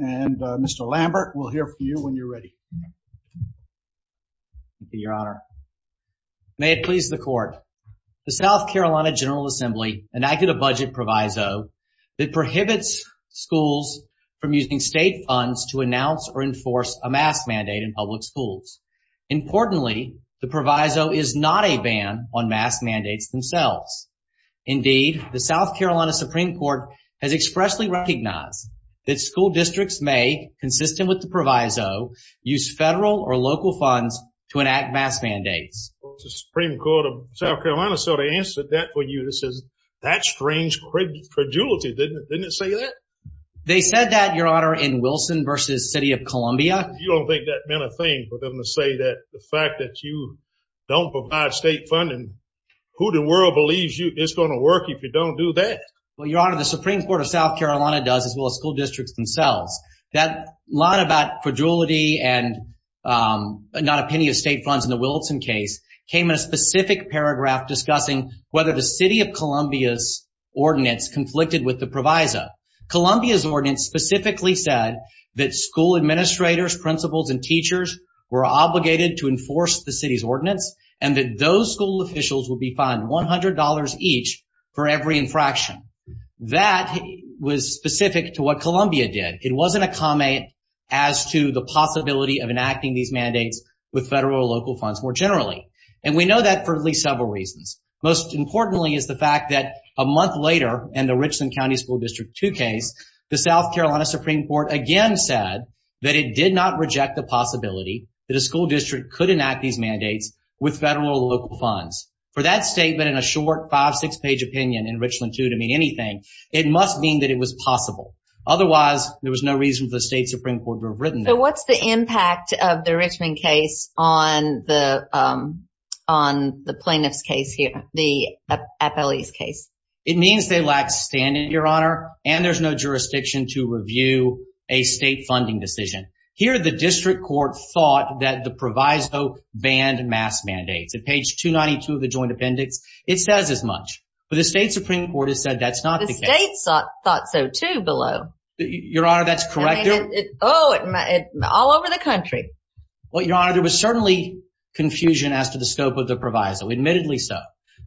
and Mr. Lambert. We'll hear from you when you're ready. Thank you, your honor. May it please the court. The South Carolina General Assembly enacted a budget proviso that prohibits schools from using state funds to announce or enforce a mask mandate in public schools. Importantly, the proviso is not a ban on mask mandates themselves. Indeed, the South Carolina Supreme Court has expressly recognized that school districts may, consistent with the proviso, use federal or local funds to enact mask mandates. The Supreme Court of South Carolina sort of answered that for you. That's strange credulity, didn't it say that? They said that, your honor, in Wilson v. City of Columbia. You don't think that meant a thing for them to say that the fact that you don't provide state funding, who in the world believes it's going to work if you don't do that? Well, your honor, the Supreme Court of South Carolina does as well as school districts themselves. That line about credulity and not a penny of state funds in the Wilson case came in a specific paragraph discussing whether the City of Columbia's ordinance conflicted with the proviso. Columbia's ordinance specifically said that school administrators, principals, and teachers were obligated to enforce the city's ordinance and that those school officials would be fined $100 each for every infraction. That was specific to what Columbia did. It wasn't a comment as to the possibility of enacting these mandates with federal or local funds more generally. And we know that for at least several reasons. Most importantly is the fact that a month later in the Richland County School District 2 case, the South Carolina Supreme Court again said that it did not reject the possibility that a school district could enact these mandates with federal or local funds. For that statement and a short 5-6 page opinion in Richland 2 to mean anything, it must mean that it was possible. Otherwise, there was no reason for the state Supreme Court to have written that. So what's the impact of the Richmond case on the plaintiff's case here, the appellee's case? It means they lack standard, Your Honor, and there's no jurisdiction to review a state funding decision. Here, the district court thought that the proviso banned mass mandates. At page 292 of the joint appendix, it says as much. But the state Supreme Court has said that's not the case. The state thought so too below. Your Honor, that's correct. Oh, it's all over the country. Well, Your Honor, there was certainly confusion as to the scope of the proviso, admittedly so.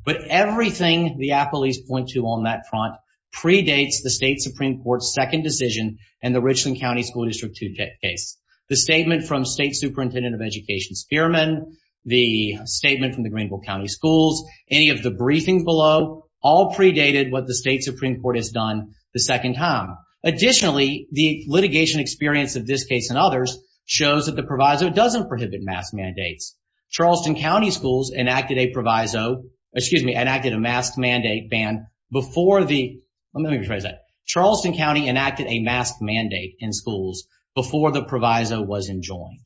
But everything the appellees point to on that front predates the state Supreme Court's second decision in the Richland County School District 2 case. The statement from State Superintendent of Education Spearman, the statement from the Greenville County Schools, any of the briefings below all predated what the state Supreme Court has done the second time. Additionally, the litigation experience of this case and others shows that the proviso doesn't prohibit mass mandates. Charleston County Schools enacted a proviso, excuse me, enacted a mask mandate ban before the, let me rephrase that. Charleston County enacted a mask mandate in schools before the proviso was enjoined.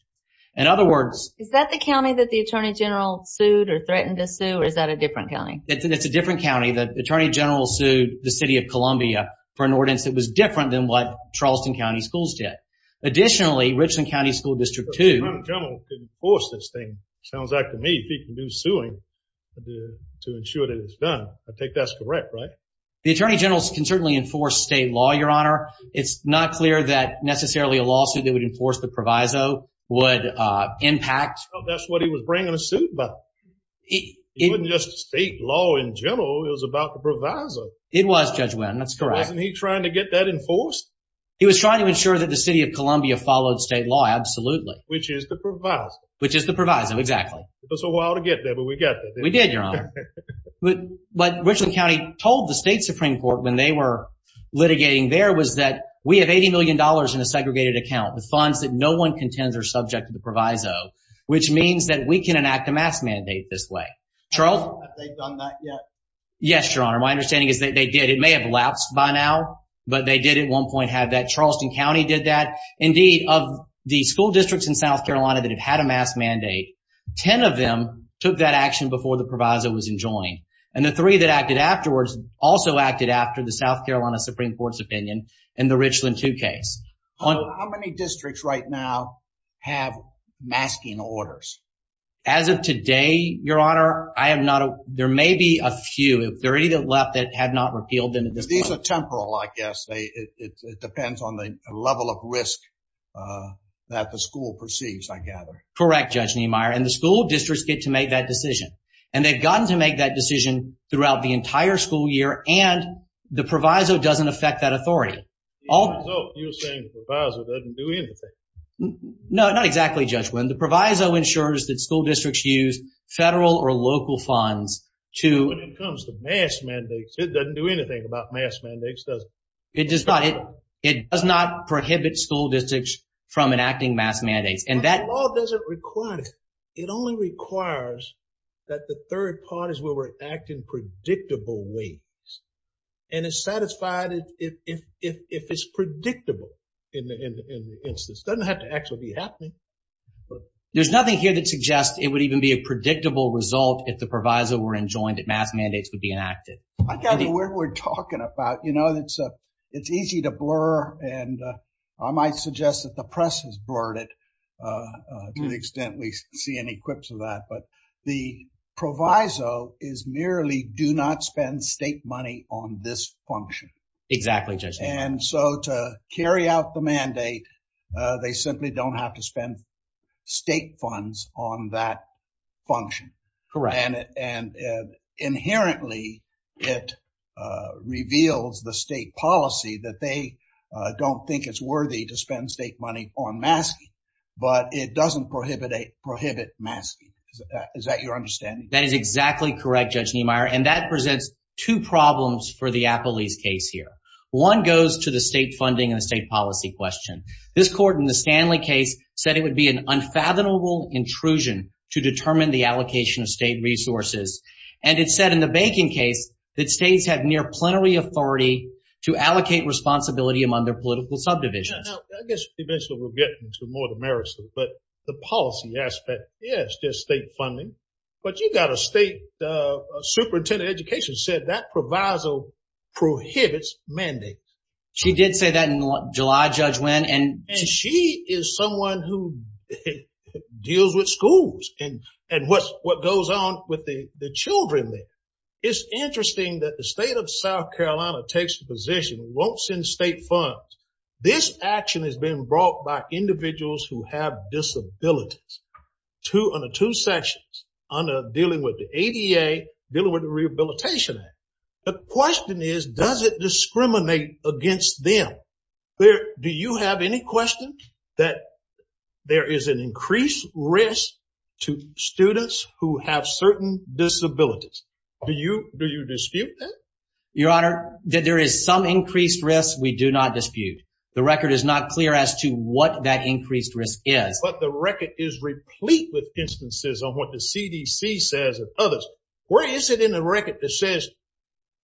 In other words. Is that the county that the Attorney General sued or threatened to sue, or is that a different county? It's a different county. The Attorney General sued the city of Columbia for an ordinance that was different than what Charleston County Schools did. Additionally, Richland County School District 2. The Attorney General can enforce this thing. Sounds like to me he can do suing to ensure that it's done. I think that's correct, right? The Attorney General can certainly enforce state law, Your Honor. It's not clear that necessarily a lawsuit that would enforce the proviso would impact. That's what he was bringing a suit about. It wasn't just state law in general. It was about the proviso. It was, Judge Wynn. That's correct. Wasn't he trying to get that enforced? He was trying to ensure that the city of Columbia followed state law. Absolutely. Which is the proviso. Which is the proviso. Exactly. It took a while to get there, but we got there. We did, Your Honor. What Richland County told the state Supreme Court when they were litigating there was that we have $80 million in a segregated account. The funds that no one contends are subject to the proviso, which means that we can enact a mask mandate this way. Charles? Have they done that yet? Yes, Your Honor. My understanding is that they did. It may have lapsed by now, but they did at one point have that. Charleston County did that. Indeed, of the school districts in South Carolina that have had a mask mandate, 10 of them took that action before the proviso was enjoined. And the three that acted afterwards also acted after the South Carolina Supreme Court's opinion in the Richland 2 case. How many districts right now have masking orders? As of today, Your Honor, there may be a few. If there are any that left that have not repealed them at this point. These are temporal, I guess. It depends on the level of risk that the school perceives, I gather. Correct, Judge Niemeyer. And the school districts get to make that decision. And they've gotten to make that decision throughout the entire school year, and the proviso doesn't affect that authority. You're saying the proviso doesn't do anything. No, not exactly, Judge Wynn. The proviso ensures that school districts use federal or local funds to… When it comes to mask mandates, it doesn't do anything about mask mandates, does it? It does not. It does not prohibit school districts from enacting mask mandates. But the law doesn't require that. It only requires that the third parties will react in predictable ways. And it's satisfied if it's predictable in the instance. It doesn't have to actually be happening. There's nothing here that suggests it would even be a predictable result if the proviso were enjoined and mask mandates would be enacted. I got the word we're talking about. You know, it's easy to blur, and I might suggest that the press has blurred it to the extent we see any clips of that. But the proviso is merely do not spend state money on this function. Exactly, Judge Neal. And so to carry out the mandate, they simply don't have to spend state funds on that function. Correct. And inherently, it reveals the state policy that they don't think it's worthy to spend state money on masking. But it doesn't prohibit masking. Is that your understanding? That is exactly correct, Judge Niemeyer. And that presents two problems for the Appellee's case here. One goes to the state funding and the state policy question. This court in the Stanley case said it would be an unfathomable intrusion to determine the allocation of state resources. And it said in the Bacon case that states have near-plenary authority to allocate responsibility among their political subdivisions. Now, I guess eventually we'll get into more of the merits, but the policy aspect is just state funding. But you've got a state superintendent of education said that proviso prohibits mandates. She did say that in July, Judge Wynn. And she is someone who deals with schools and what goes on with the children there. It's interesting that the state of South Carolina takes a position, won't send state funds. This action has been brought by individuals who have disabilities under two sections, under dealing with the ADA, dealing with the Rehabilitation Act. The question is, does it discriminate against them? Do you have any questions that there is an increased risk to students who have certain disabilities? Do you dispute that? Your Honor, that there is some increased risk, we do not dispute. The record is not clear as to what that increased risk is. But the record is replete with instances of what the CDC says and others. Where is it in the record that says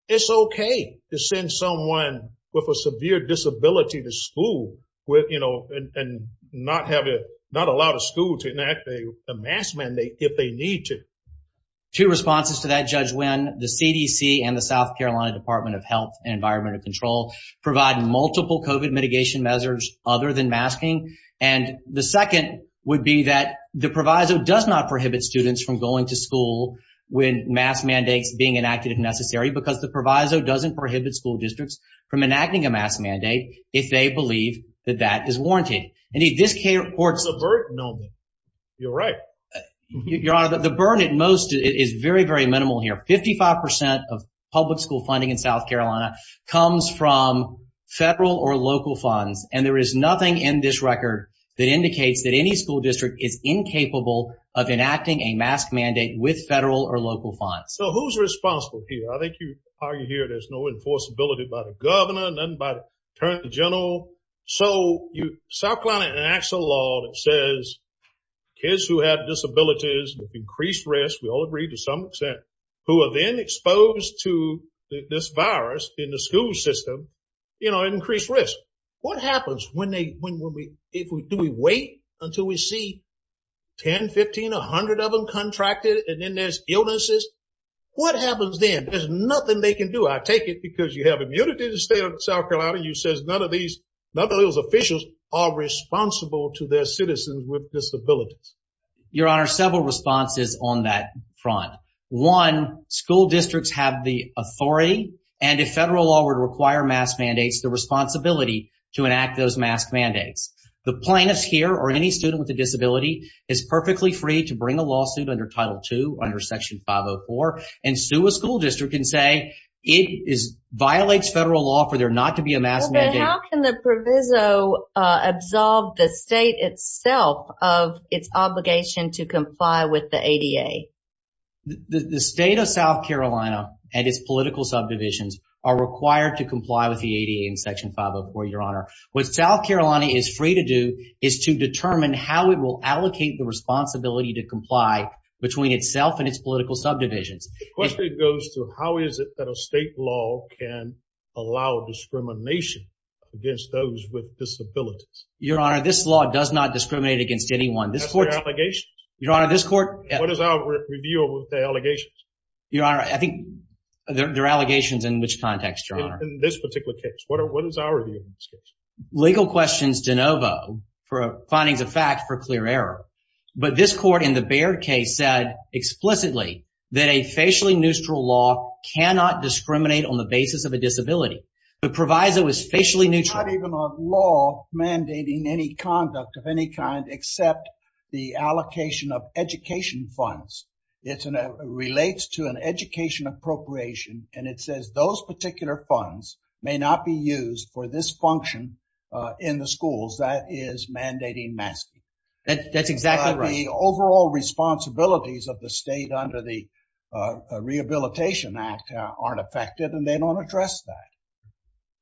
it's OK to send someone with a severe disability to school with, you know, and not have it, not allow the school to enact a mask mandate if they need to? Two responses to that, Judge Wynn. The CDC and the South Carolina Department of Health and Environmental Control provide multiple COVID mitigation measures other than masking. And the second would be that the proviso does not prohibit students from going to school with mask mandates being enacted if necessary. Because the proviso doesn't prohibit school districts from enacting a mask mandate if they believe that that is warranted. There's a burden on them. You're right. Your Honor, the burden at most is very, very minimal here. Fifty-five percent of public school funding in South Carolina comes from federal or local funds. And there is nothing in this record that indicates that any school district is incapable of enacting a mask mandate with federal or local funds. So who's responsible here? I think you argue here there's no enforceability by the governor, nothing by the attorney general. So South Carolina enacts a law that says kids who have disabilities with increased risk, we all agree to some extent, who are then exposed to this virus in the school system, you know, increased risk. What happens when they, when we, do we wait until we see 10, 15, 100 of them contracted and then there's illnesses? What happens then? There's nothing they can do. I take it because you have immunity to stay in South Carolina. You says none of these, none of those officials are responsible to their citizens with disabilities. Your Honor, several responses on that front. One, school districts have the authority and if federal law would require mask mandates, the responsibility to enact those mask mandates. The plaintiffs here or any student with a disability is perfectly free to bring a lawsuit under Title II under Section 504 and sue a school district and say it violates federal law for there not to be a mask mandate. How can the proviso absolve the state itself of its obligation to comply with the ADA? The state of South Carolina and its political subdivisions are required to comply with the ADA in Section 504, Your Honor. What South Carolina is free to do is to determine how it will allocate the responsibility to comply between itself and its political subdivisions. The question goes to how is it that a state law can allow discrimination against those with disabilities? Your Honor, this law does not discriminate against anyone. That's their allegations. Your Honor, this court… What is our review of the allegations? Your Honor, I think they're allegations in which context, Your Honor? In this particular case. What is our review of this case? Legal questions de novo for findings of fact for clear error. But this court in the Baird case said explicitly that a facially neutral law cannot discriminate on the basis of a disability. The proviso is facially neutral. It's not even a law mandating any conduct of any kind except the allocation of education funds. It relates to an education appropriation, and it says those particular funds may not be used for this function in the schools. That is mandating masking. That's exactly right. The overall responsibilities of the state under the Rehabilitation Act aren't affected, and they don't address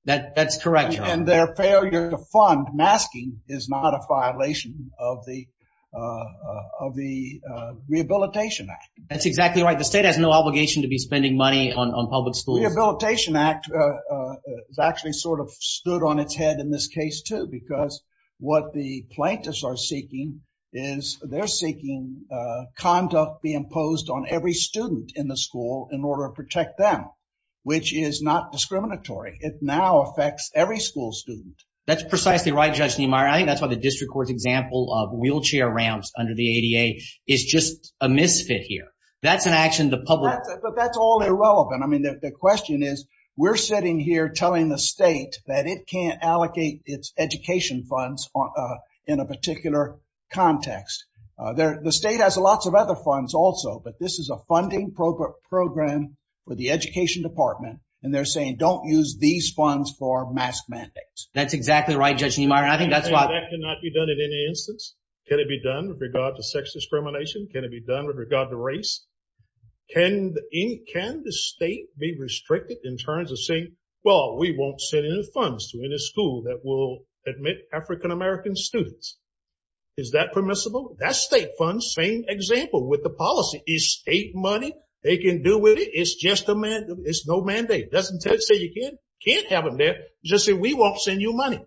that. That's correct, Your Honor. And their failure to fund masking is not a violation of the Rehabilitation Act. That's exactly right. The state has no obligation to be spending money on public schools. The Rehabilitation Act has actually sort of stood on its head in this case, too, because what the plaintiffs are seeking is they're seeking conduct be imposed on every student in the school in order to protect them, which is not discriminatory. It now affects every school student. That's precisely right, Judge Niemeyer. I think that's why the district court's example of wheelchair ramps under the ADA is just a misfit here. That's an action the public— My question is, we're sitting here telling the state that it can't allocate its education funds in a particular context. The state has lots of other funds also, but this is a funding program for the education department, and they're saying don't use these funds for mask mandates. That's exactly right, Judge Niemeyer. I think that's why— Can that not be done in any instance? Can it be done with regard to sex discrimination? Can it be done with regard to race? Can the state be restricted in terms of saying, well, we won't send any funds to any school that will admit African-American students? Is that permissible? That's state funds. Same example with the policy. It's state money. They can do with it. It's just a mandate. It's no mandate. Doesn't say you can't have them there. Just say we won't send you money.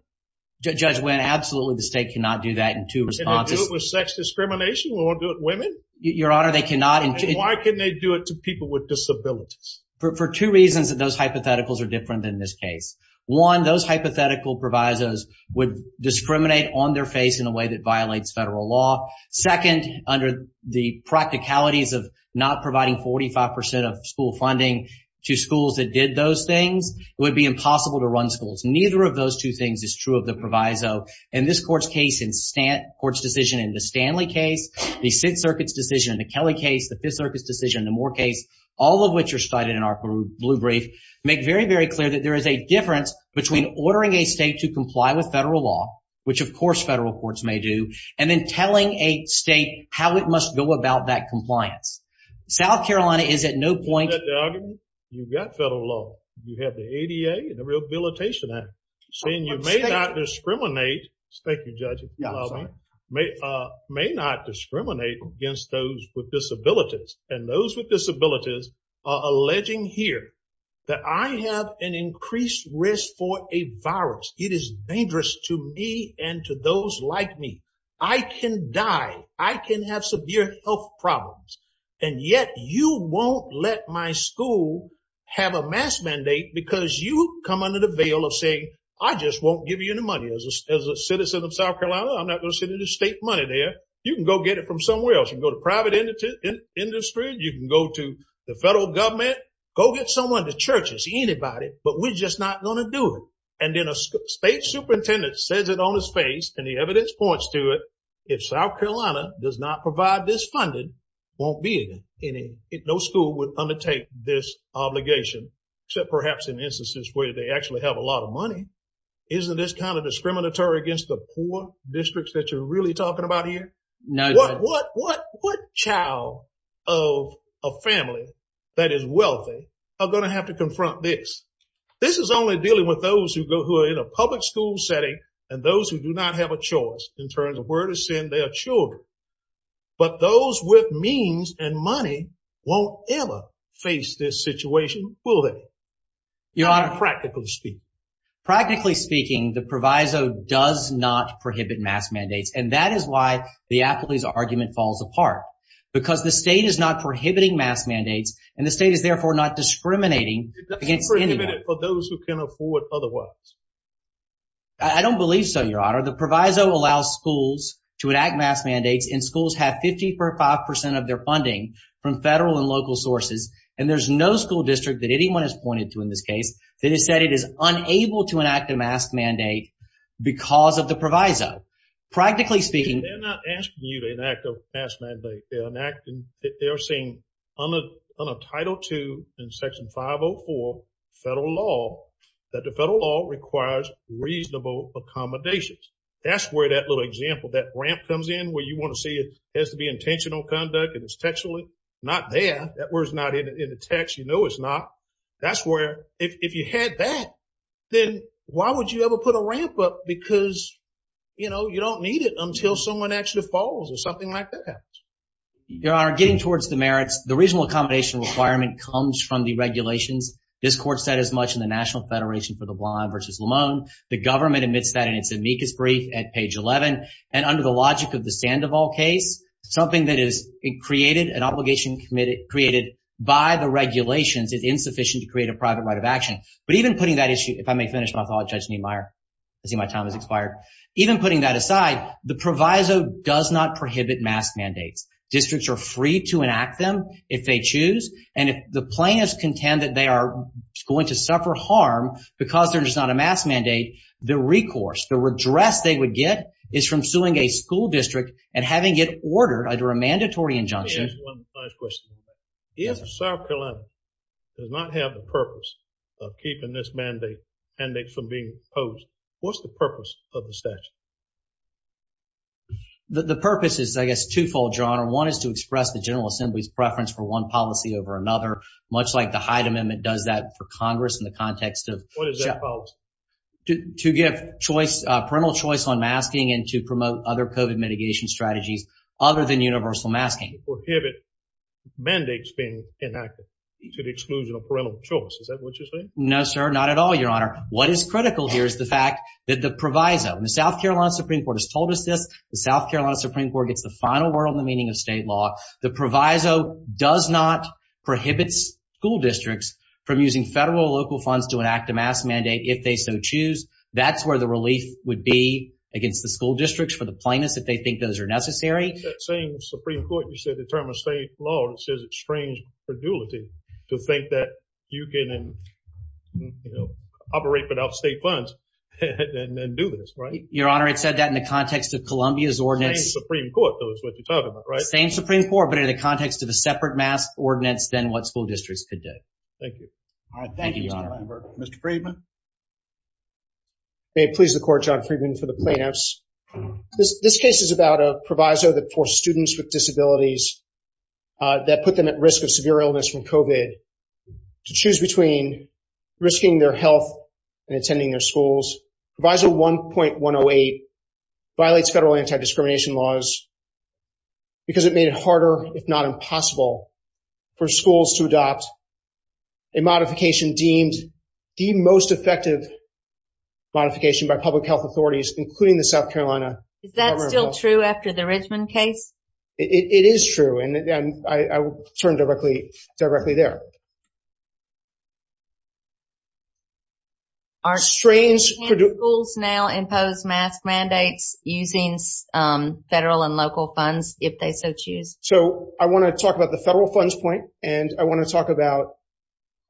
Judge Wendt, absolutely the state cannot do that in two responses. Can they do it with sex discrimination? We won't do it with women? Your Honor, they cannot. And why can they do it to people with disabilities? For two reasons that those hypotheticals are different than this case. One, those hypothetical provisos would discriminate on their face in a way that violates federal law. Second, under the practicalities of not providing 45 percent of school funding to schools that did those things, it would be impossible to run schools. Neither of those two things is true of the proviso. In this court's decision, in the Stanley case, the Sixth Circuit's decision, the Kelly case, the Fifth Circuit's decision, the Moore case, all of which are cited in our blue brief, make very, very clear that there is a difference between ordering a state to comply with federal law, which, of course, federal courts may do, and then telling a state how it must go about that compliance. South Carolina is at no point— You've got federal law. You have the ADA and the Rehabilitation Act saying you may not discriminate— Thank you, Judge. May not discriminate against those with disabilities. And those with disabilities are alleging here that I have an increased risk for a virus. It is dangerous to me and to those like me. I can die. I can have severe health problems. And yet you won't let my school have a mask mandate because you come under the veil of saying, I just won't give you any money. As a citizen of South Carolina, I'm not going to send you state money there. You can go get it from somewhere else. You can go to private industry. You can go to the federal government. Go get someone, the churches, anybody. But we're just not going to do it. And then a state superintendent says it on his face, and the evidence points to it, if South Carolina does not provide this funding, won't be in it. No school would undertake this obligation, except perhaps in instances where they actually have a lot of money. Isn't this kind of discriminatory against the poor districts that you're really talking about here? No, Judge. What child of a family that is wealthy are going to have to confront this? This is only dealing with those who are in a public school setting and those who do not have a choice in terms of where to send their children. But those with means and money won't ever face this situation, will they? Your Honor. Practically speaking. Practically speaking, the proviso does not prohibit mask mandates, and that is why the athlete's argument falls apart, because the state is not prohibiting mask mandates, and the state is therefore not discriminating against anyone. It doesn't prohibit it for those who can afford otherwise. I don't believe so, Your Honor. The proviso allows schools to enact mask mandates, and schools have 55 percent of their funding from federal and local sources, and there's no school district that anyone has pointed to in this case that has said it is unable to enact a mask mandate because of the proviso. Practically speaking. They're not asking you to enact a mask mandate. They're saying under Title II and Section 504 federal law that the federal law requires reasonable accommodations. That's where that little example, that ramp comes in where you want to see it has to be intentional conduct and it's textually not there. That word's not in the text. You know it's not. That's where if you had that, then why would you ever put a ramp up? Because, you know, you don't need it until someone actually falls or something like that happens. Your Honor, getting towards the merits, the reasonable accommodation requirement comes from the regulations. This court said as much in the National Federation for the Blind versus Lamone. The government admits that in its amicus brief at page 11, and under the logic of the Sandoval case, something that is created, an obligation created by the regulations is insufficient to create a private right of action. But even putting that issue, if I may finish my thought, Judge Niemeyer, I see my time has expired. Even putting that aside, the proviso does not prohibit mask mandates. Districts are free to enact them if they choose. And if the plaintiffs contend that they are going to suffer harm because there's not a mask mandate, the recourse, the redress they would get is from suing a school district and having it ordered under a mandatory injunction. Let me ask one last question. If South Carolina does not have the purpose of keeping this mandate from being imposed, what's the purpose of the statute? The purpose is, I guess, twofold, Your Honor. One is to express the General Assembly's preference for one policy over another, much like the Hyde Amendment does that for Congress in the context of— What is that policy? To give choice, parental choice on masking and to promote other COVID mitigation strategies other than universal masking. To prohibit mandates being enacted to the exclusion of parental choice. Is that what you're saying? No, sir, not at all, Your Honor. What is critical here is the fact that the proviso—the South Carolina Supreme Court has told us this. The South Carolina Supreme Court gets the final word on the meaning of state law. The proviso does not prohibit school districts from using federal or local funds to enact a mask mandate if they so choose. That's where the relief would be against the school districts for the plaintiffs if they think those are necessary. That same Supreme Court, you said the term of state law, it says it's strange credulity to think that you can operate without state funds and do this, right? Your Honor, it said that in the context of Columbia's ordinance. Same Supreme Court, though, is what you're talking about, right? Same Supreme Court, but in the context of a separate mask ordinance than what school districts could do. Thank you. Thank you, Your Honor. Mr. Friedman? May it please the Court, John Friedman, for the plaintiffs. This case is about a proviso that forced students with disabilities, that put them at risk of severe illness from COVID, to choose between risking their health and attending their schools. Proviso 1.108 violates federal anti-discrimination laws because it made it harder, if not impossible, for schools to adopt a modification deemed the most effective modification by public health authorities, including the South Carolina government. Is that still true after the Richmond case? It is true, and I will turn directly there. Can schools now impose mask mandates using federal and local funds, if they so choose? So, I want to talk about the federal funds point, and I want to talk about…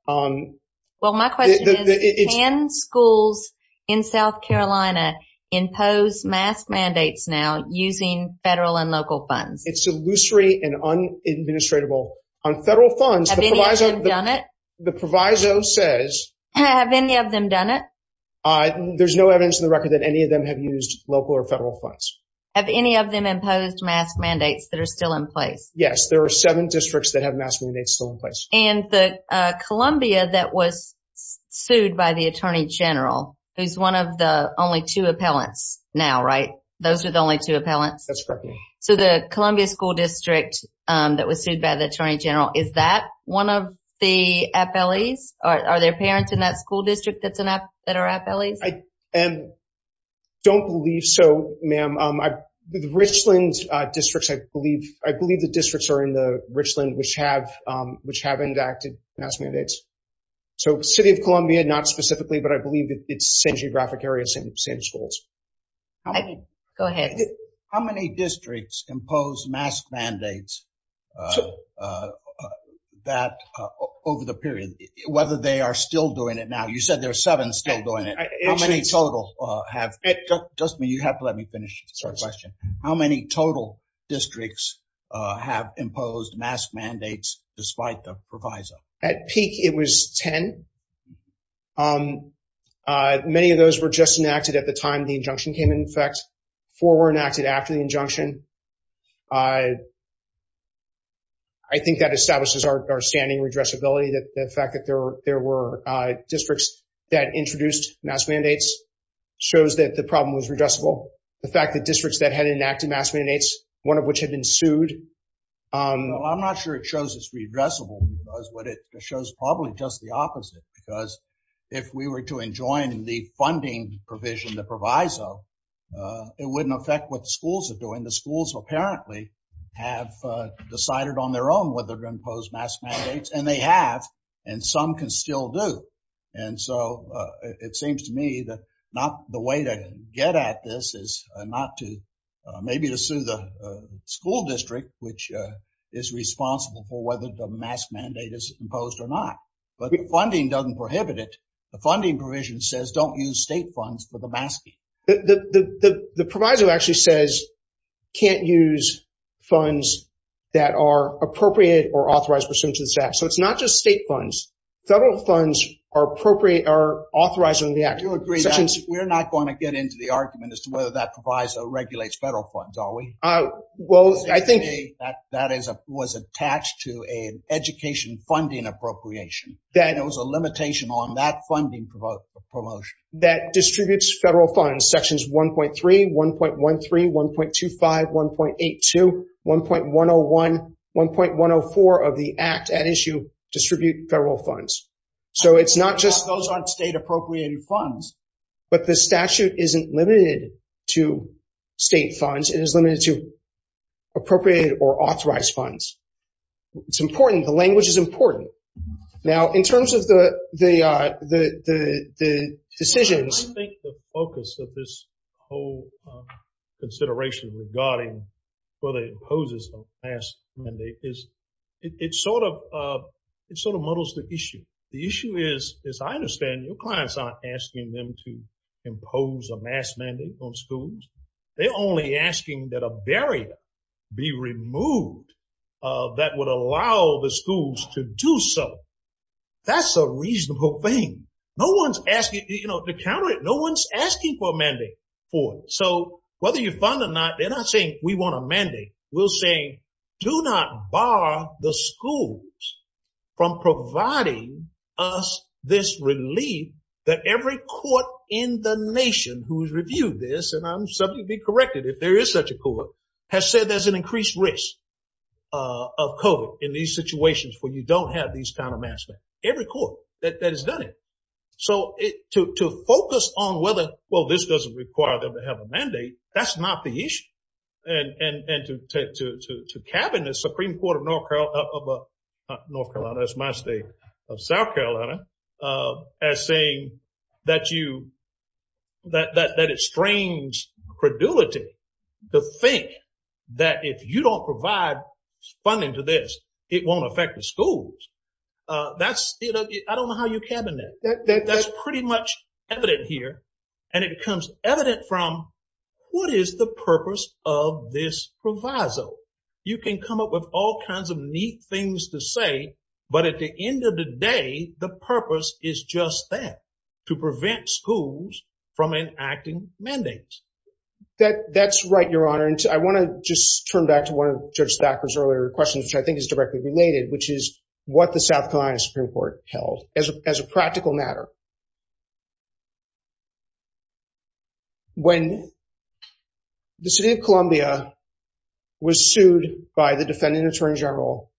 Well, my question is, can schools in South Carolina impose mask mandates now using federal and local funds? It's illusory and unadministratable. On federal funds, the proviso says… Have any of them done it? There's no evidence in the record that any of them have used local or federal funds. Have any of them imposed mask mandates that are still in place? Yes, there are seven districts that have mask mandates still in place. And the Columbia that was sued by the Attorney General, who's one of the only two appellants now, right? Those are the only two appellants? That's correct. So, the Columbia School District that was sued by the Attorney General, is that one of the appellees? Are there parents in that school district that are appellees? I don't believe so, ma'am. The Richland districts, I believe the districts are in the Richland which have enacted mask mandates. So, City of Columbia, not specifically, but I believe it's the same geographic area, same schools. Go ahead. How many districts imposed mask mandates over the period, whether they are still doing it now? You said there are seven still doing it. How many total have… Just let me finish this question. How many total districts have imposed mask mandates despite the proviso? At peak, it was 10. Many of those were just enacted at the time the injunction came into effect. Four were enacted after the injunction. I think that establishes our standing redressability. The fact that there were districts that introduced mask mandates shows that the problem was redressable. The fact that districts that had enacted mask mandates, one of which had been sued… I'm not sure it shows it's redressable. It shows probably just the opposite. Because if we were to enjoin the funding provision, the proviso, it wouldn't affect what the schools are doing. The schools apparently have decided on their own whether to impose mask mandates, and they have, and some can still do. And so it seems to me that not the way to get at this is not to, maybe to sue the school district, which is responsible for whether the mask mandate is imposed or not. But the funding doesn't prohibit it. The funding provision says don't use state funds for the masking. The proviso actually says can't use funds that are appropriate or authorized pursuant to the statute. So it's not just state funds. Federal funds are authorized under the Act. We're not going to get into the argument as to whether that proviso regulates federal funds, are we? Well, I think… That was attached to an education funding appropriation. There was a limitation on that funding promotion. That distributes federal funds, sections 1.3, 1.13, 1.25, 1.82, 1.101, 1.104 of the Act at issue distribute federal funds. So it's not just… Those aren't state appropriated funds. But the statute isn't limited to state funds. It is limited to appropriated or authorized funds. It's important. The language is important. Now, in terms of the decisions… I think the focus of this whole consideration regarding whether it imposes a mask mandate is it sort of muddles the issue. The issue is, as I understand, your clients aren't asking them to impose a mask mandate on schools. They're only asking that a barrier be removed that would allow the schools to do so. That's a reasonable thing. No one's asking to counter it. No one's asking for a mandate for it. So whether you fund or not, they're not saying we want a mandate. We're saying do not bar the schools from providing us this relief that every court in the nation who's reviewed this, and I'm subject to be corrected if there is such a court, has said there's an increased risk of COVID in these situations where you don't have these kind of mask mandates. Every court that has done it. So to focus on whether, well, this doesn't require them to have a mandate, that's not the issue. And to cabin the Supreme Court of North Carolina, that's my state, of South Carolina, as saying that it strains credulity to think that if you don't provide funding to this, it won't affect the schools. I don't know how you cabin that. That's pretty much evident here, and it becomes evident from what is the purpose of this proviso? You can come up with all kinds of neat things to say, but at the end of the day, the purpose is just that, to prevent schools from enacting mandates. That's right, Your Honor. And I want to just turn back to one of Judge Thacker's earlier questions, which I think is directly related, which is what the South Carolina Supreme Court held as a practical matter. When the city of Columbia was sued by the defendant attorney general,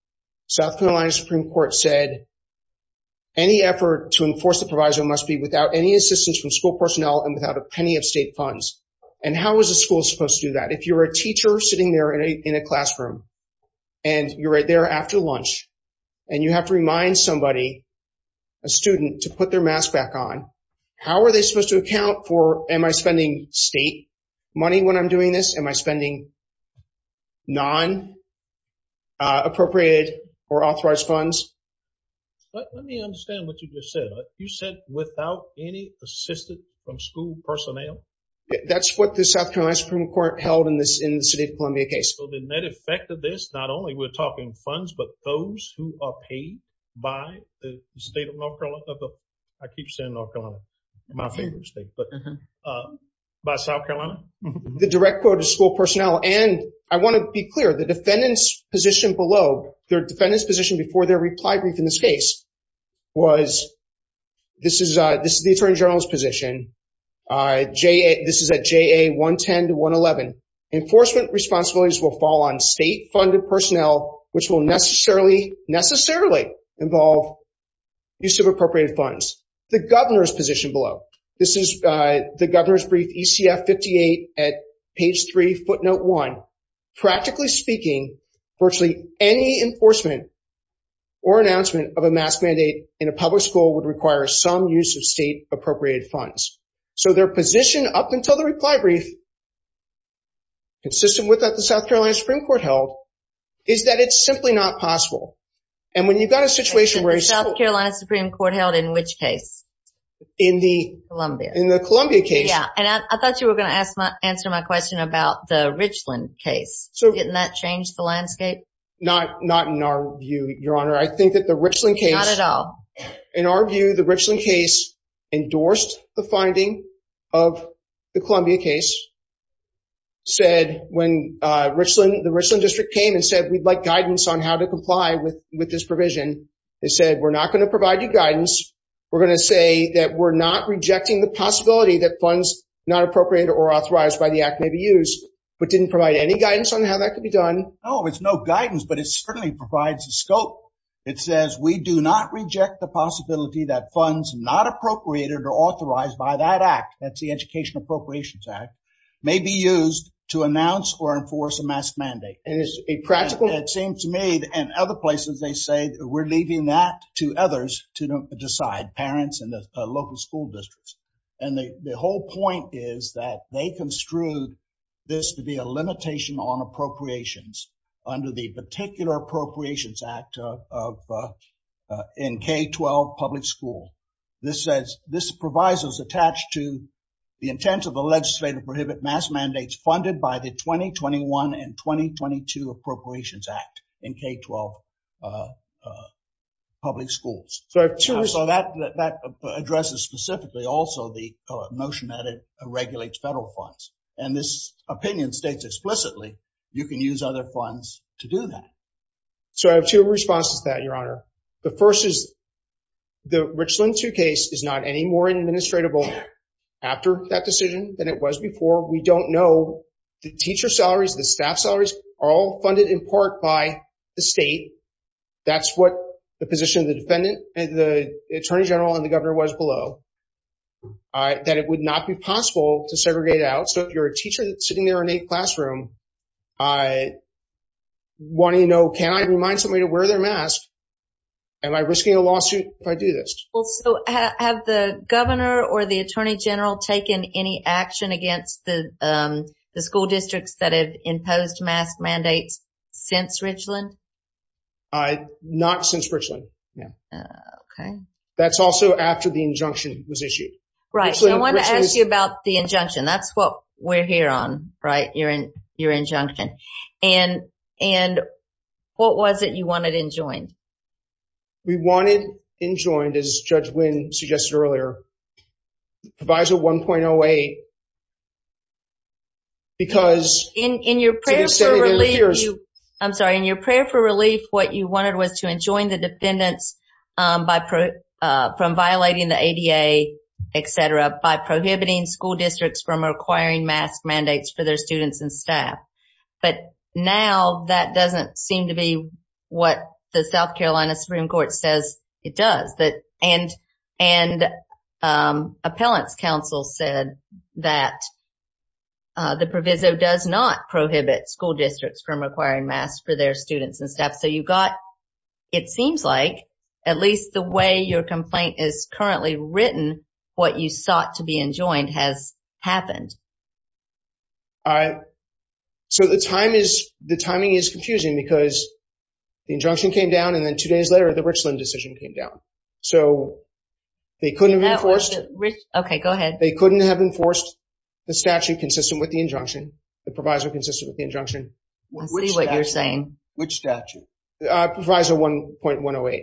South Carolina Supreme Court said any effort to enforce the proviso must be without any assistance from school personnel and without a penny of state funds. And how is a school supposed to do that? If you're a teacher sitting there in a classroom, and you're right there after lunch, and you have to remind somebody, a student, to put their mask back on, how are they supposed to account for, am I spending state money when I'm doing this? Am I spending non-appropriated or authorized funds? Let me understand what you just said. You said without any assistance from school personnel? That's what the South Carolina Supreme Court held in the city of Columbia case. So the net effect of this, not only we're talking funds, but those who are paid by the state of North Carolina, I keep saying North Carolina, my favorite state, but by South Carolina? The direct quote of school personnel, and I want to be clear, the defendant's position below, their defendant's position before their reply brief in this case was, this is the attorney general's position. This is at JA 110 to 111. Enforcement responsibilities will fall on state-funded personnel, which will necessarily, necessarily involve use of appropriated funds. The governor's position below, this is the governor's brief, ECF 58 at page 3, footnote 1. Practically speaking, virtually any enforcement or announcement of a mask mandate in a public school would require some use of state-appropriated funds. So their position up until the reply brief, consistent with what the South Carolina Supreme Court held, is that it's simply not possible. And when you've got a situation where- The South Carolina Supreme Court held in which case? In the- Columbia. In the Columbia case. Yeah, and I thought you were going to answer my question about the Richland case. Didn't that change the landscape? Not in our view, Your Honor. I think that the Richland case- Not at all. It said, we're not going to provide you guidance. We're going to say that we're not rejecting the possibility that funds not appropriated or authorized by the act may be used, but didn't provide any guidance on how that could be done. No, it's no guidance, but it certainly provides a scope. It says, we do not reject the possibility that funds not appropriated or authorized by that act, that's the Education Appropriations Act, may be used to announce or enforce a mask mandate. And it's a practical- And other places, they say, we're leaving that to others to decide, parents and the local school districts. And the whole point is that they construed this to be a limitation on appropriations under the particular Appropriations Act in K-12 public school. This says, this provisos attached to the intent of the legislative prohibit mask mandates funded by the 2021 and 2022 Appropriations Act in K-12 public schools. So that addresses specifically also the notion that it regulates federal funds. And this opinion states explicitly, you can use other funds to do that. So I have two responses to that, Your Honor. The first is the Richland 2 case is not any more administratable after that decision than it was before. We don't know the teacher salaries, the staff salaries are all funded in part by the state. That's what the position of the defendant and the Attorney General and the governor was below. That it would not be possible to segregate out. So if you're a teacher sitting there in a classroom, I want to know, can I remind somebody to wear their mask? Am I risking a lawsuit if I do this? So have the governor or the Attorney General taken any action against the school districts that have imposed mask mandates since Richland? Not since Richland. Okay. That's also after the injunction was issued. Right. So I want to ask you about the injunction. That's what we're here on, right? Your injunction. And what was it you wanted enjoined? We wanted enjoined, as Judge Wynn suggested earlier, Proviso 1.08. In your prayer for relief, what you wanted was to enjoin the defendants from violating the ADA, etc. By prohibiting school districts from requiring mask mandates for their students and staff. But now that doesn't seem to be what the South Carolina Supreme Court says it does. And Appellant's counsel said that the Proviso does not prohibit school districts from requiring masks for their students and staff. So you've got, it seems like, at least the way your complaint is currently written, what you sought to be enjoined has happened. So the timing is confusing because the injunction came down and then two days later the Richland decision came down. So they couldn't have enforced the statute consistent with the injunction. The Proviso consistent with the injunction. I see what you're saying. Which statute? Proviso 1.108.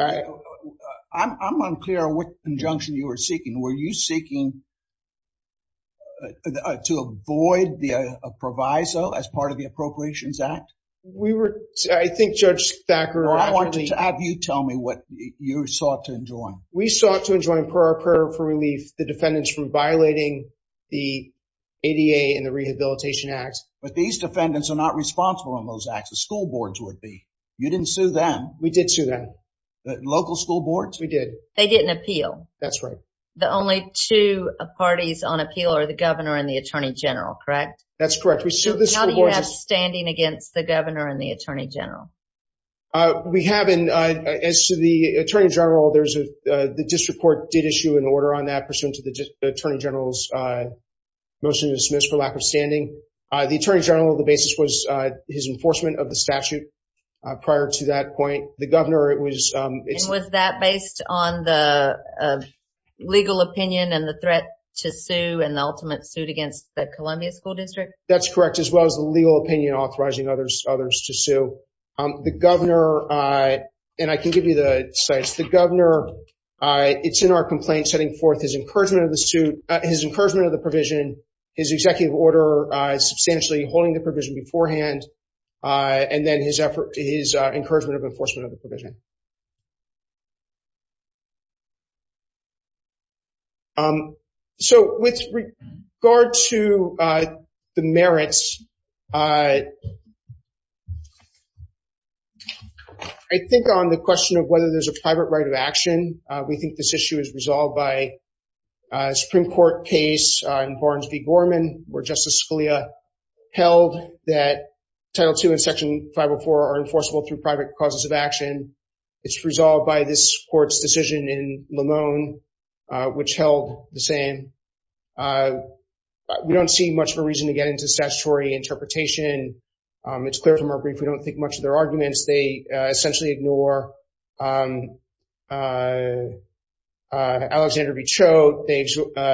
I'm unclear on what injunction you were seeking. Were you seeking to avoid the Proviso as part of the Appropriations Act? We were, I think Judge Thacker… Or I wanted to have you tell me what you sought to enjoin. We sought to enjoin, per our prayer for relief, the defendants from violating the ADA and the Rehabilitation Act. But these defendants are not responsible in those acts. The school boards would be. You didn't sue them. We did sue them. The local school boards? We did. They didn't appeal. That's right. The only two parties on appeal are the Governor and the Attorney General, correct? That's correct. How do you have standing against the Governor and the Attorney General? We have, and as to the Attorney General, the district court did issue an order on that pursuant to the Attorney General's motion to dismiss for lack of standing. The Attorney General, the basis was his enforcement of the statute prior to that point. And was that based on the legal opinion and the threat to sue and the ultimate suit against the Columbia School District? That's correct, as well as the legal opinion authorizing others to sue. The Governor, and I can give you the slides, the Governor, it's in our complaint setting forth his encouragement of the provision, his executive order substantially holding the provision beforehand, and then his encouragement of enforcement of the provision. So, with regard to the merits, I think on the question of whether there's a private right of action, we think this issue is resolved by a Supreme Court case in Barnes v. Gorman where Justice Scalia held that Title II and Section 504 are enforceable through private causes of action. It's resolved by this court's decision in Lamone, which held the same. We don't see much of a reason to get into statutory interpretation. It's clear from our brief we don't think much of their arguments. They essentially ignore Alexander v. Choate. They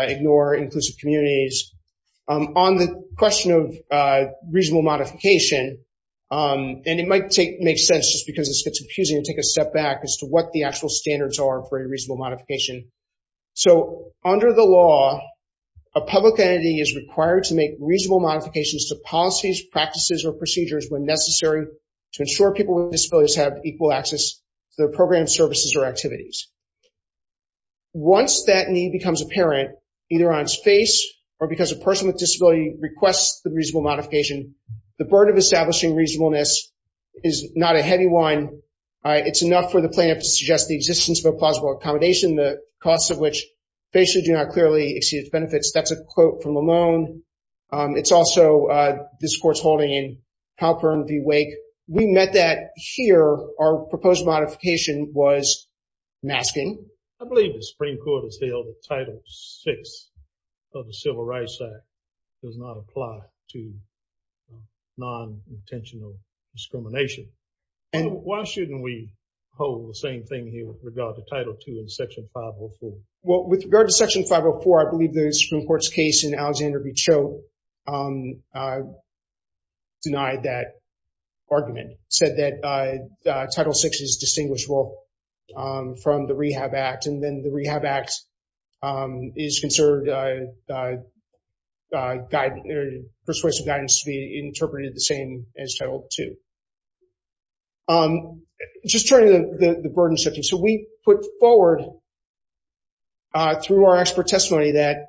ignore inclusive communities. On the question of reasonable modification, and it might make sense, just because this gets confusing, to take a step back as to what the actual standards are for a reasonable modification. So, under the law, a public entity is required to make reasonable modifications to policies, practices, or procedures when necessary to ensure people with disabilities have equal access to their program services or activities. Once that need becomes apparent, either on its face or because a person with disability requests the reasonable modification, the burden of establishing reasonableness is not a heavy one. It's enough for the plaintiff to suggest the existence of a plausible accommodation, the costs of which basically do not clearly exceed its benefits. That's a quote from Lamone. It's also this court's holding in Halpern v. Wake. We met that here. Our proposed modification was masking. I believe the Supreme Court has held that Title VI of the Civil Rights Act does not apply to non-intentional discrimination. Why shouldn't we hold the same thing here with regard to Title II in Section 504? Well, with regard to Section 504, I believe the Supreme Court's case in Alexander v. Cho denied that argument, said that Title VI is distinguishable from the Rehab Act, and then the Rehab Act is considered persuasive guidance to be interpreted the same as Title II. Just turning to the burden shifting. So we put forward through our expert testimony that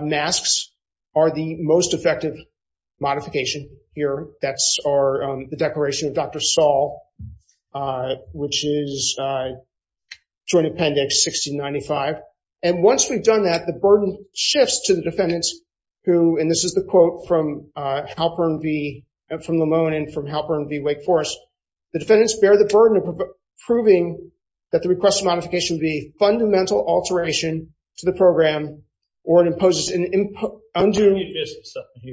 masks are the most effective modification here. That's the declaration of Dr. Saul, which is Joint Appendix 1695. And once we've done that, the burden shifts to the defendants who, and this is the quote from Halpern v. Lamone and from Halpern v. Wake Forest, the defendants bear the burden of proving that the request of modification would be a fundamental alteration to the program or it imposes an undue...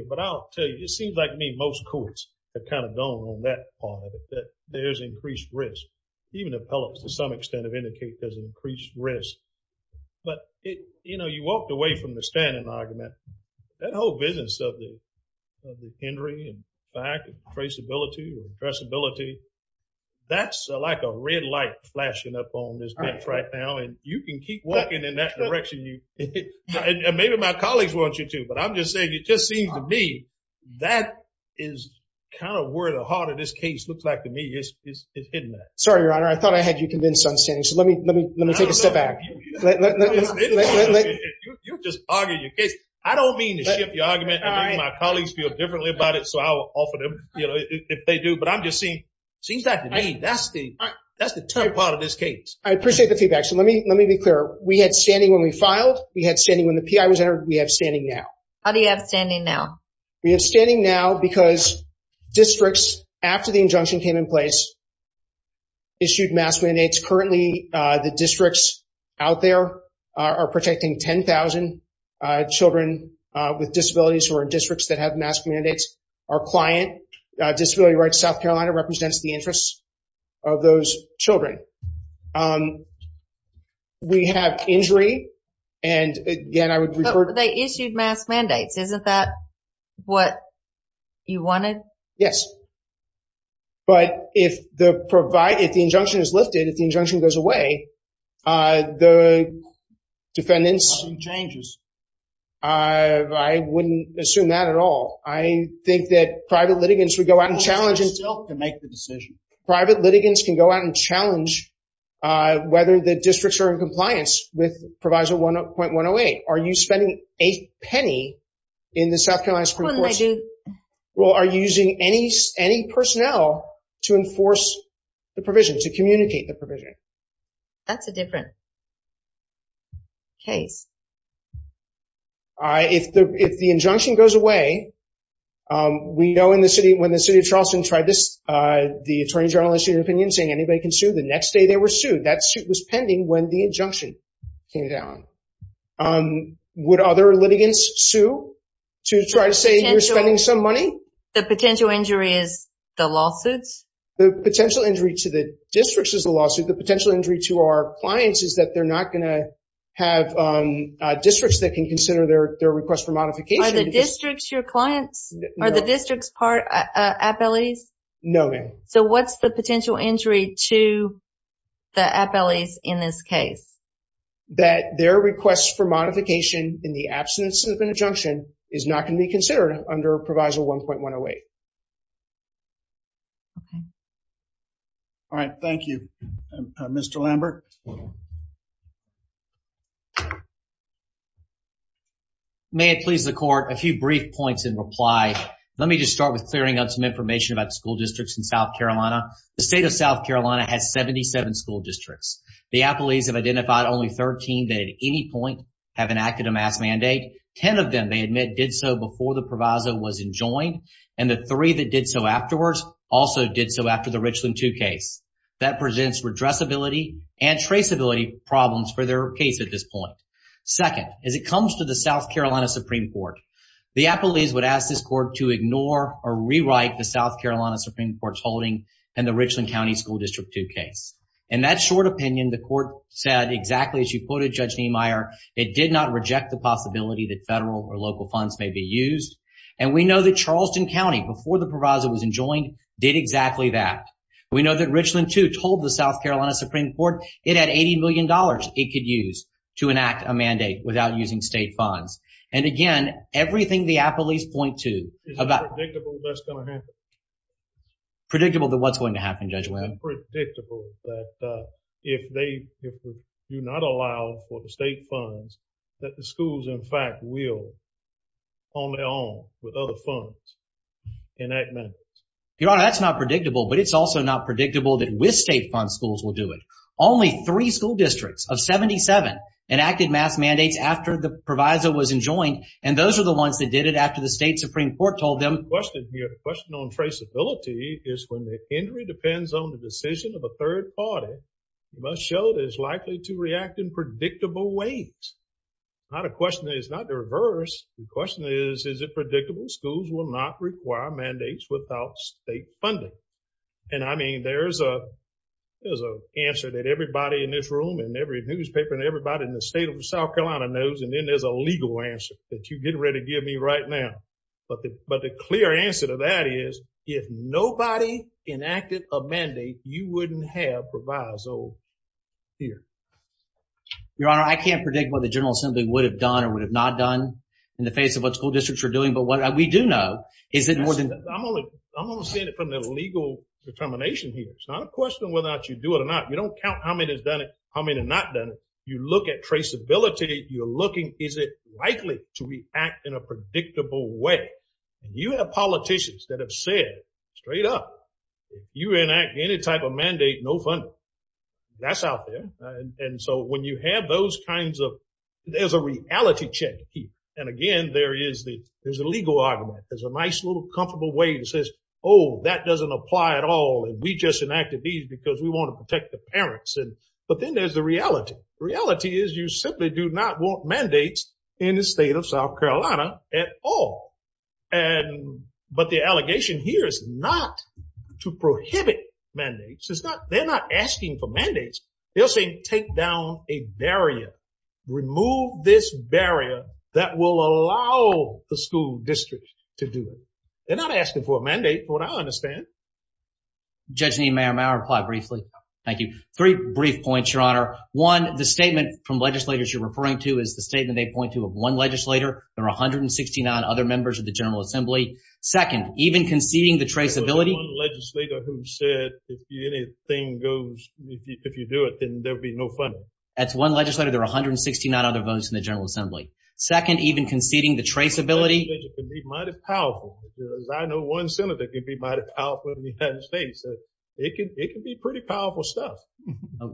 But I'll tell you, it seems like to me most courts have kind of gone on that part of it, that there's increased risk. Even appellates to some extent have indicated there's increased risk. But you walked away from the standing argument. That whole business of the Henry and back and traceability and addressability, that's like a red light flashing up on this bench right now. And you can keep walking in that direction, and maybe my colleagues want you to, but I'm just saying it just seems to me that is kind of where the heart of this case looks like to me. It's hidden there. Sorry, Your Honor. I thought I had you convinced on standing, so let me take a step back. You're just arguing your case. I don't mean to shift the argument and make my colleagues feel differently about it, so I will offer them, you know, if they do. But I'm just saying it seems like to me that's the tough part of this case. I appreciate the feedback, so let me be clear. We had standing when we filed. We had standing when the PI was entered. We have standing now. How do you have standing now? We have standing now because districts, after the injunction came in place, issued mass mandates. Currently, the districts out there are protecting 10,000 children with disabilities who are in districts that have mass mandates. Our client, Disability Rights South Carolina, represents the interests of those children. We have injury, and, again, I would refer to – But they issued mass mandates. Isn't that what you wanted? Yes. But if the injunction is lifted, if the injunction goes away, the defendants – Nothing changes. I wouldn't assume that at all. I think that private litigants would go out and challenge – They still can make the decision. Private litigants can go out and challenge whether the districts are in compliance with Proviso 1.108. Are you spending a penny in the South Carolina Supreme Court's – What did I do? Are you using any personnel to enforce the provision, to communicate the provision? That's a different case. If the injunction goes away, we know when the city of Charleston tried this, the attorney general issued an opinion saying anybody can sue. The next day, they were sued. That suit was pending when the injunction came down. Would other litigants sue to try to say you're spending some money? The potential injury is the lawsuits? The potential injury to the districts is the lawsuit. The potential injury to our clients is that they're not going to have districts that can consider their request for modification. Are the districts your clients? Are the districts appellees? No, ma'am. So what's the potential injury to the appellees in this case? That their request for modification in the absence of an injunction is not going to be considered under Proviso 1.108. All right. Thank you. Mr. Lambert? May it please the court, a few brief points in reply. Let me just start with clearing up some information about school districts in South Carolina. The state of South Carolina has 77 school districts. The appellees have identified only 13 that at any point have enacted a mass mandate. Ten of them, they admit, did so before the proviso was enjoined. And the three that did so afterwards also did so after the Richland 2 case. That presents redressability and traceability problems for their case at this point. Second, as it comes to the South Carolina Supreme Court, the appellees would ask this court to ignore or rewrite the South Carolina Supreme Court's holding in the Richland County School District 2 case. In that short opinion, the court said exactly as you quoted Judge Niemeyer, it did not reject the possibility that federal or local funds may be used. And we know that Charleston County, before the proviso was enjoined, did exactly that. We know that Richland 2 told the South Carolina Supreme Court it had $80 million it could use to enact a mandate without using state funds. And again, everything the appellees point to about… Is it predictable that's going to happen? Predictable that what's going to happen, Judge Webb? It's not predictable that if they do not allow for the state funds, that the schools in fact will, on their own, with other funds, enact mandates. Your Honor, that's not predictable, but it's also not predictable that with state funds, schools will do it. Only three school districts of 77 enacted mass mandates after the proviso was enjoined, and those are the ones that did it after the state Supreme Court told them… Your question on traceability is when the injury depends on the decision of a third party, it must show that it's likely to react in predictable ways. Not a question that it's not the reverse. The question is, is it predictable? Schools will not require mandates without state funding. And I mean, there's an answer that everybody in this room and every newspaper and everybody in the state of South Carolina knows, and then there's a legal answer that you're getting ready to give me right now. But the clear answer to that is if nobody enacted a mandate, you wouldn't have proviso here. Your Honor, I can't predict what the General Assembly would have done or would have not done in the face of what school districts are doing. But what we do know is that more than… I'm only saying it from the legal determination here. It's not a question of whether or not you do it or not. You don't count how many have done it, how many have not done it. You look at traceability. You're looking, is it likely to react in a predictable way? And you have politicians that have said straight up, if you enact any type of mandate, no funding. That's out there. And so when you have those kinds of… There's a reality check to keep. And again, there is the legal argument. There's a nice little comfortable way that says, oh, that doesn't apply at all. And we just enacted these because we want to protect the parents. But then there's the reality. The reality is you simply do not want mandates in the state of South Carolina at all. But the allegation here is not to prohibit mandates. They're not asking for mandates. They're saying take down a barrier. Remove this barrier that will allow the school district to do it. They're not asking for a mandate, from what I understand. Judge Niemeyer, may I reply briefly? Absolutely. Thank you. Three brief points, Your Honor. One, the statement from legislators you're referring to is the statement they point to of one legislator. There are 169 other members of the General Assembly. Second, even conceding the traceability… There's one legislator who said if anything goes, if you do it, then there'll be no funding. That's one legislator. There are 169 other votes in the General Assembly. Second, even conceding the traceability… It can be mighty powerful. I know one senator that can be mighty powerful in the United States. It can be pretty powerful stuff.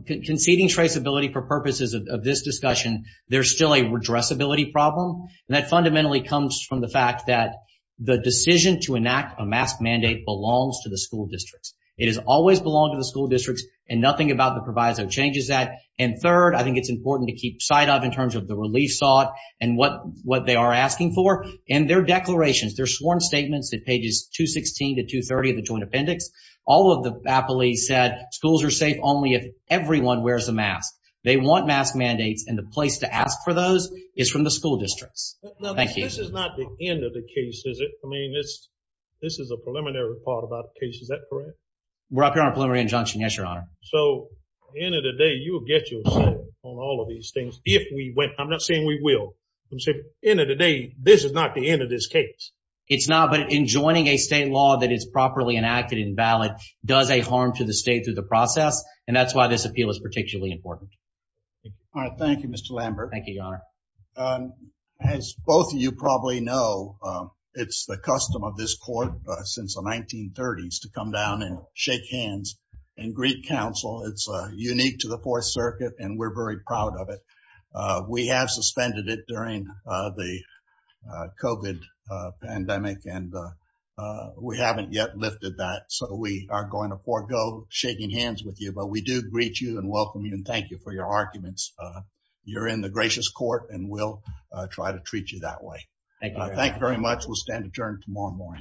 Conceding traceability for purposes of this discussion, there's still a redressability problem. And that fundamentally comes from the fact that the decision to enact a mask mandate belongs to the school districts. It has always belonged to the school districts. And nothing about the proviso changes that. And third, I think it's important to keep sight of in terms of the relief sought and what they are asking for. And their declarations, their sworn statements at pages 216 to 230 of the Joint Appendix, all of the appellees said schools are safe only if everyone wears a mask. They want mask mandates, and the place to ask for those is from the school districts. Thank you. This is not the end of the case, is it? I mean, this is a preliminary part of our case. Is that correct? We're up here on a preliminary injunction, yes, Your Honor. So, at the end of the day, you will get your say on all of these things if we win. I'm not saying we will. I'm saying at the end of the day, this is not the end of this case. It's not. But enjoining a state law that is properly enacted and valid does a harm to the state through the process, and that's why this appeal is particularly important. All right. Thank you, Mr. Lambert. Thank you, Your Honor. As both of you probably know, it's the custom of this court since the 1930s to come down and shake hands in Greek Council. It's unique to the Fourth Circuit, and we're very proud of it. We have suspended it during the COVID pandemic, and we haven't yet lifted that. So, we are going to forego shaking hands with you, but we do greet you and welcome you and thank you for your arguments. You're in the gracious court, and we'll try to treat you that way. Thank you very much. We'll stand adjourned tomorrow morning.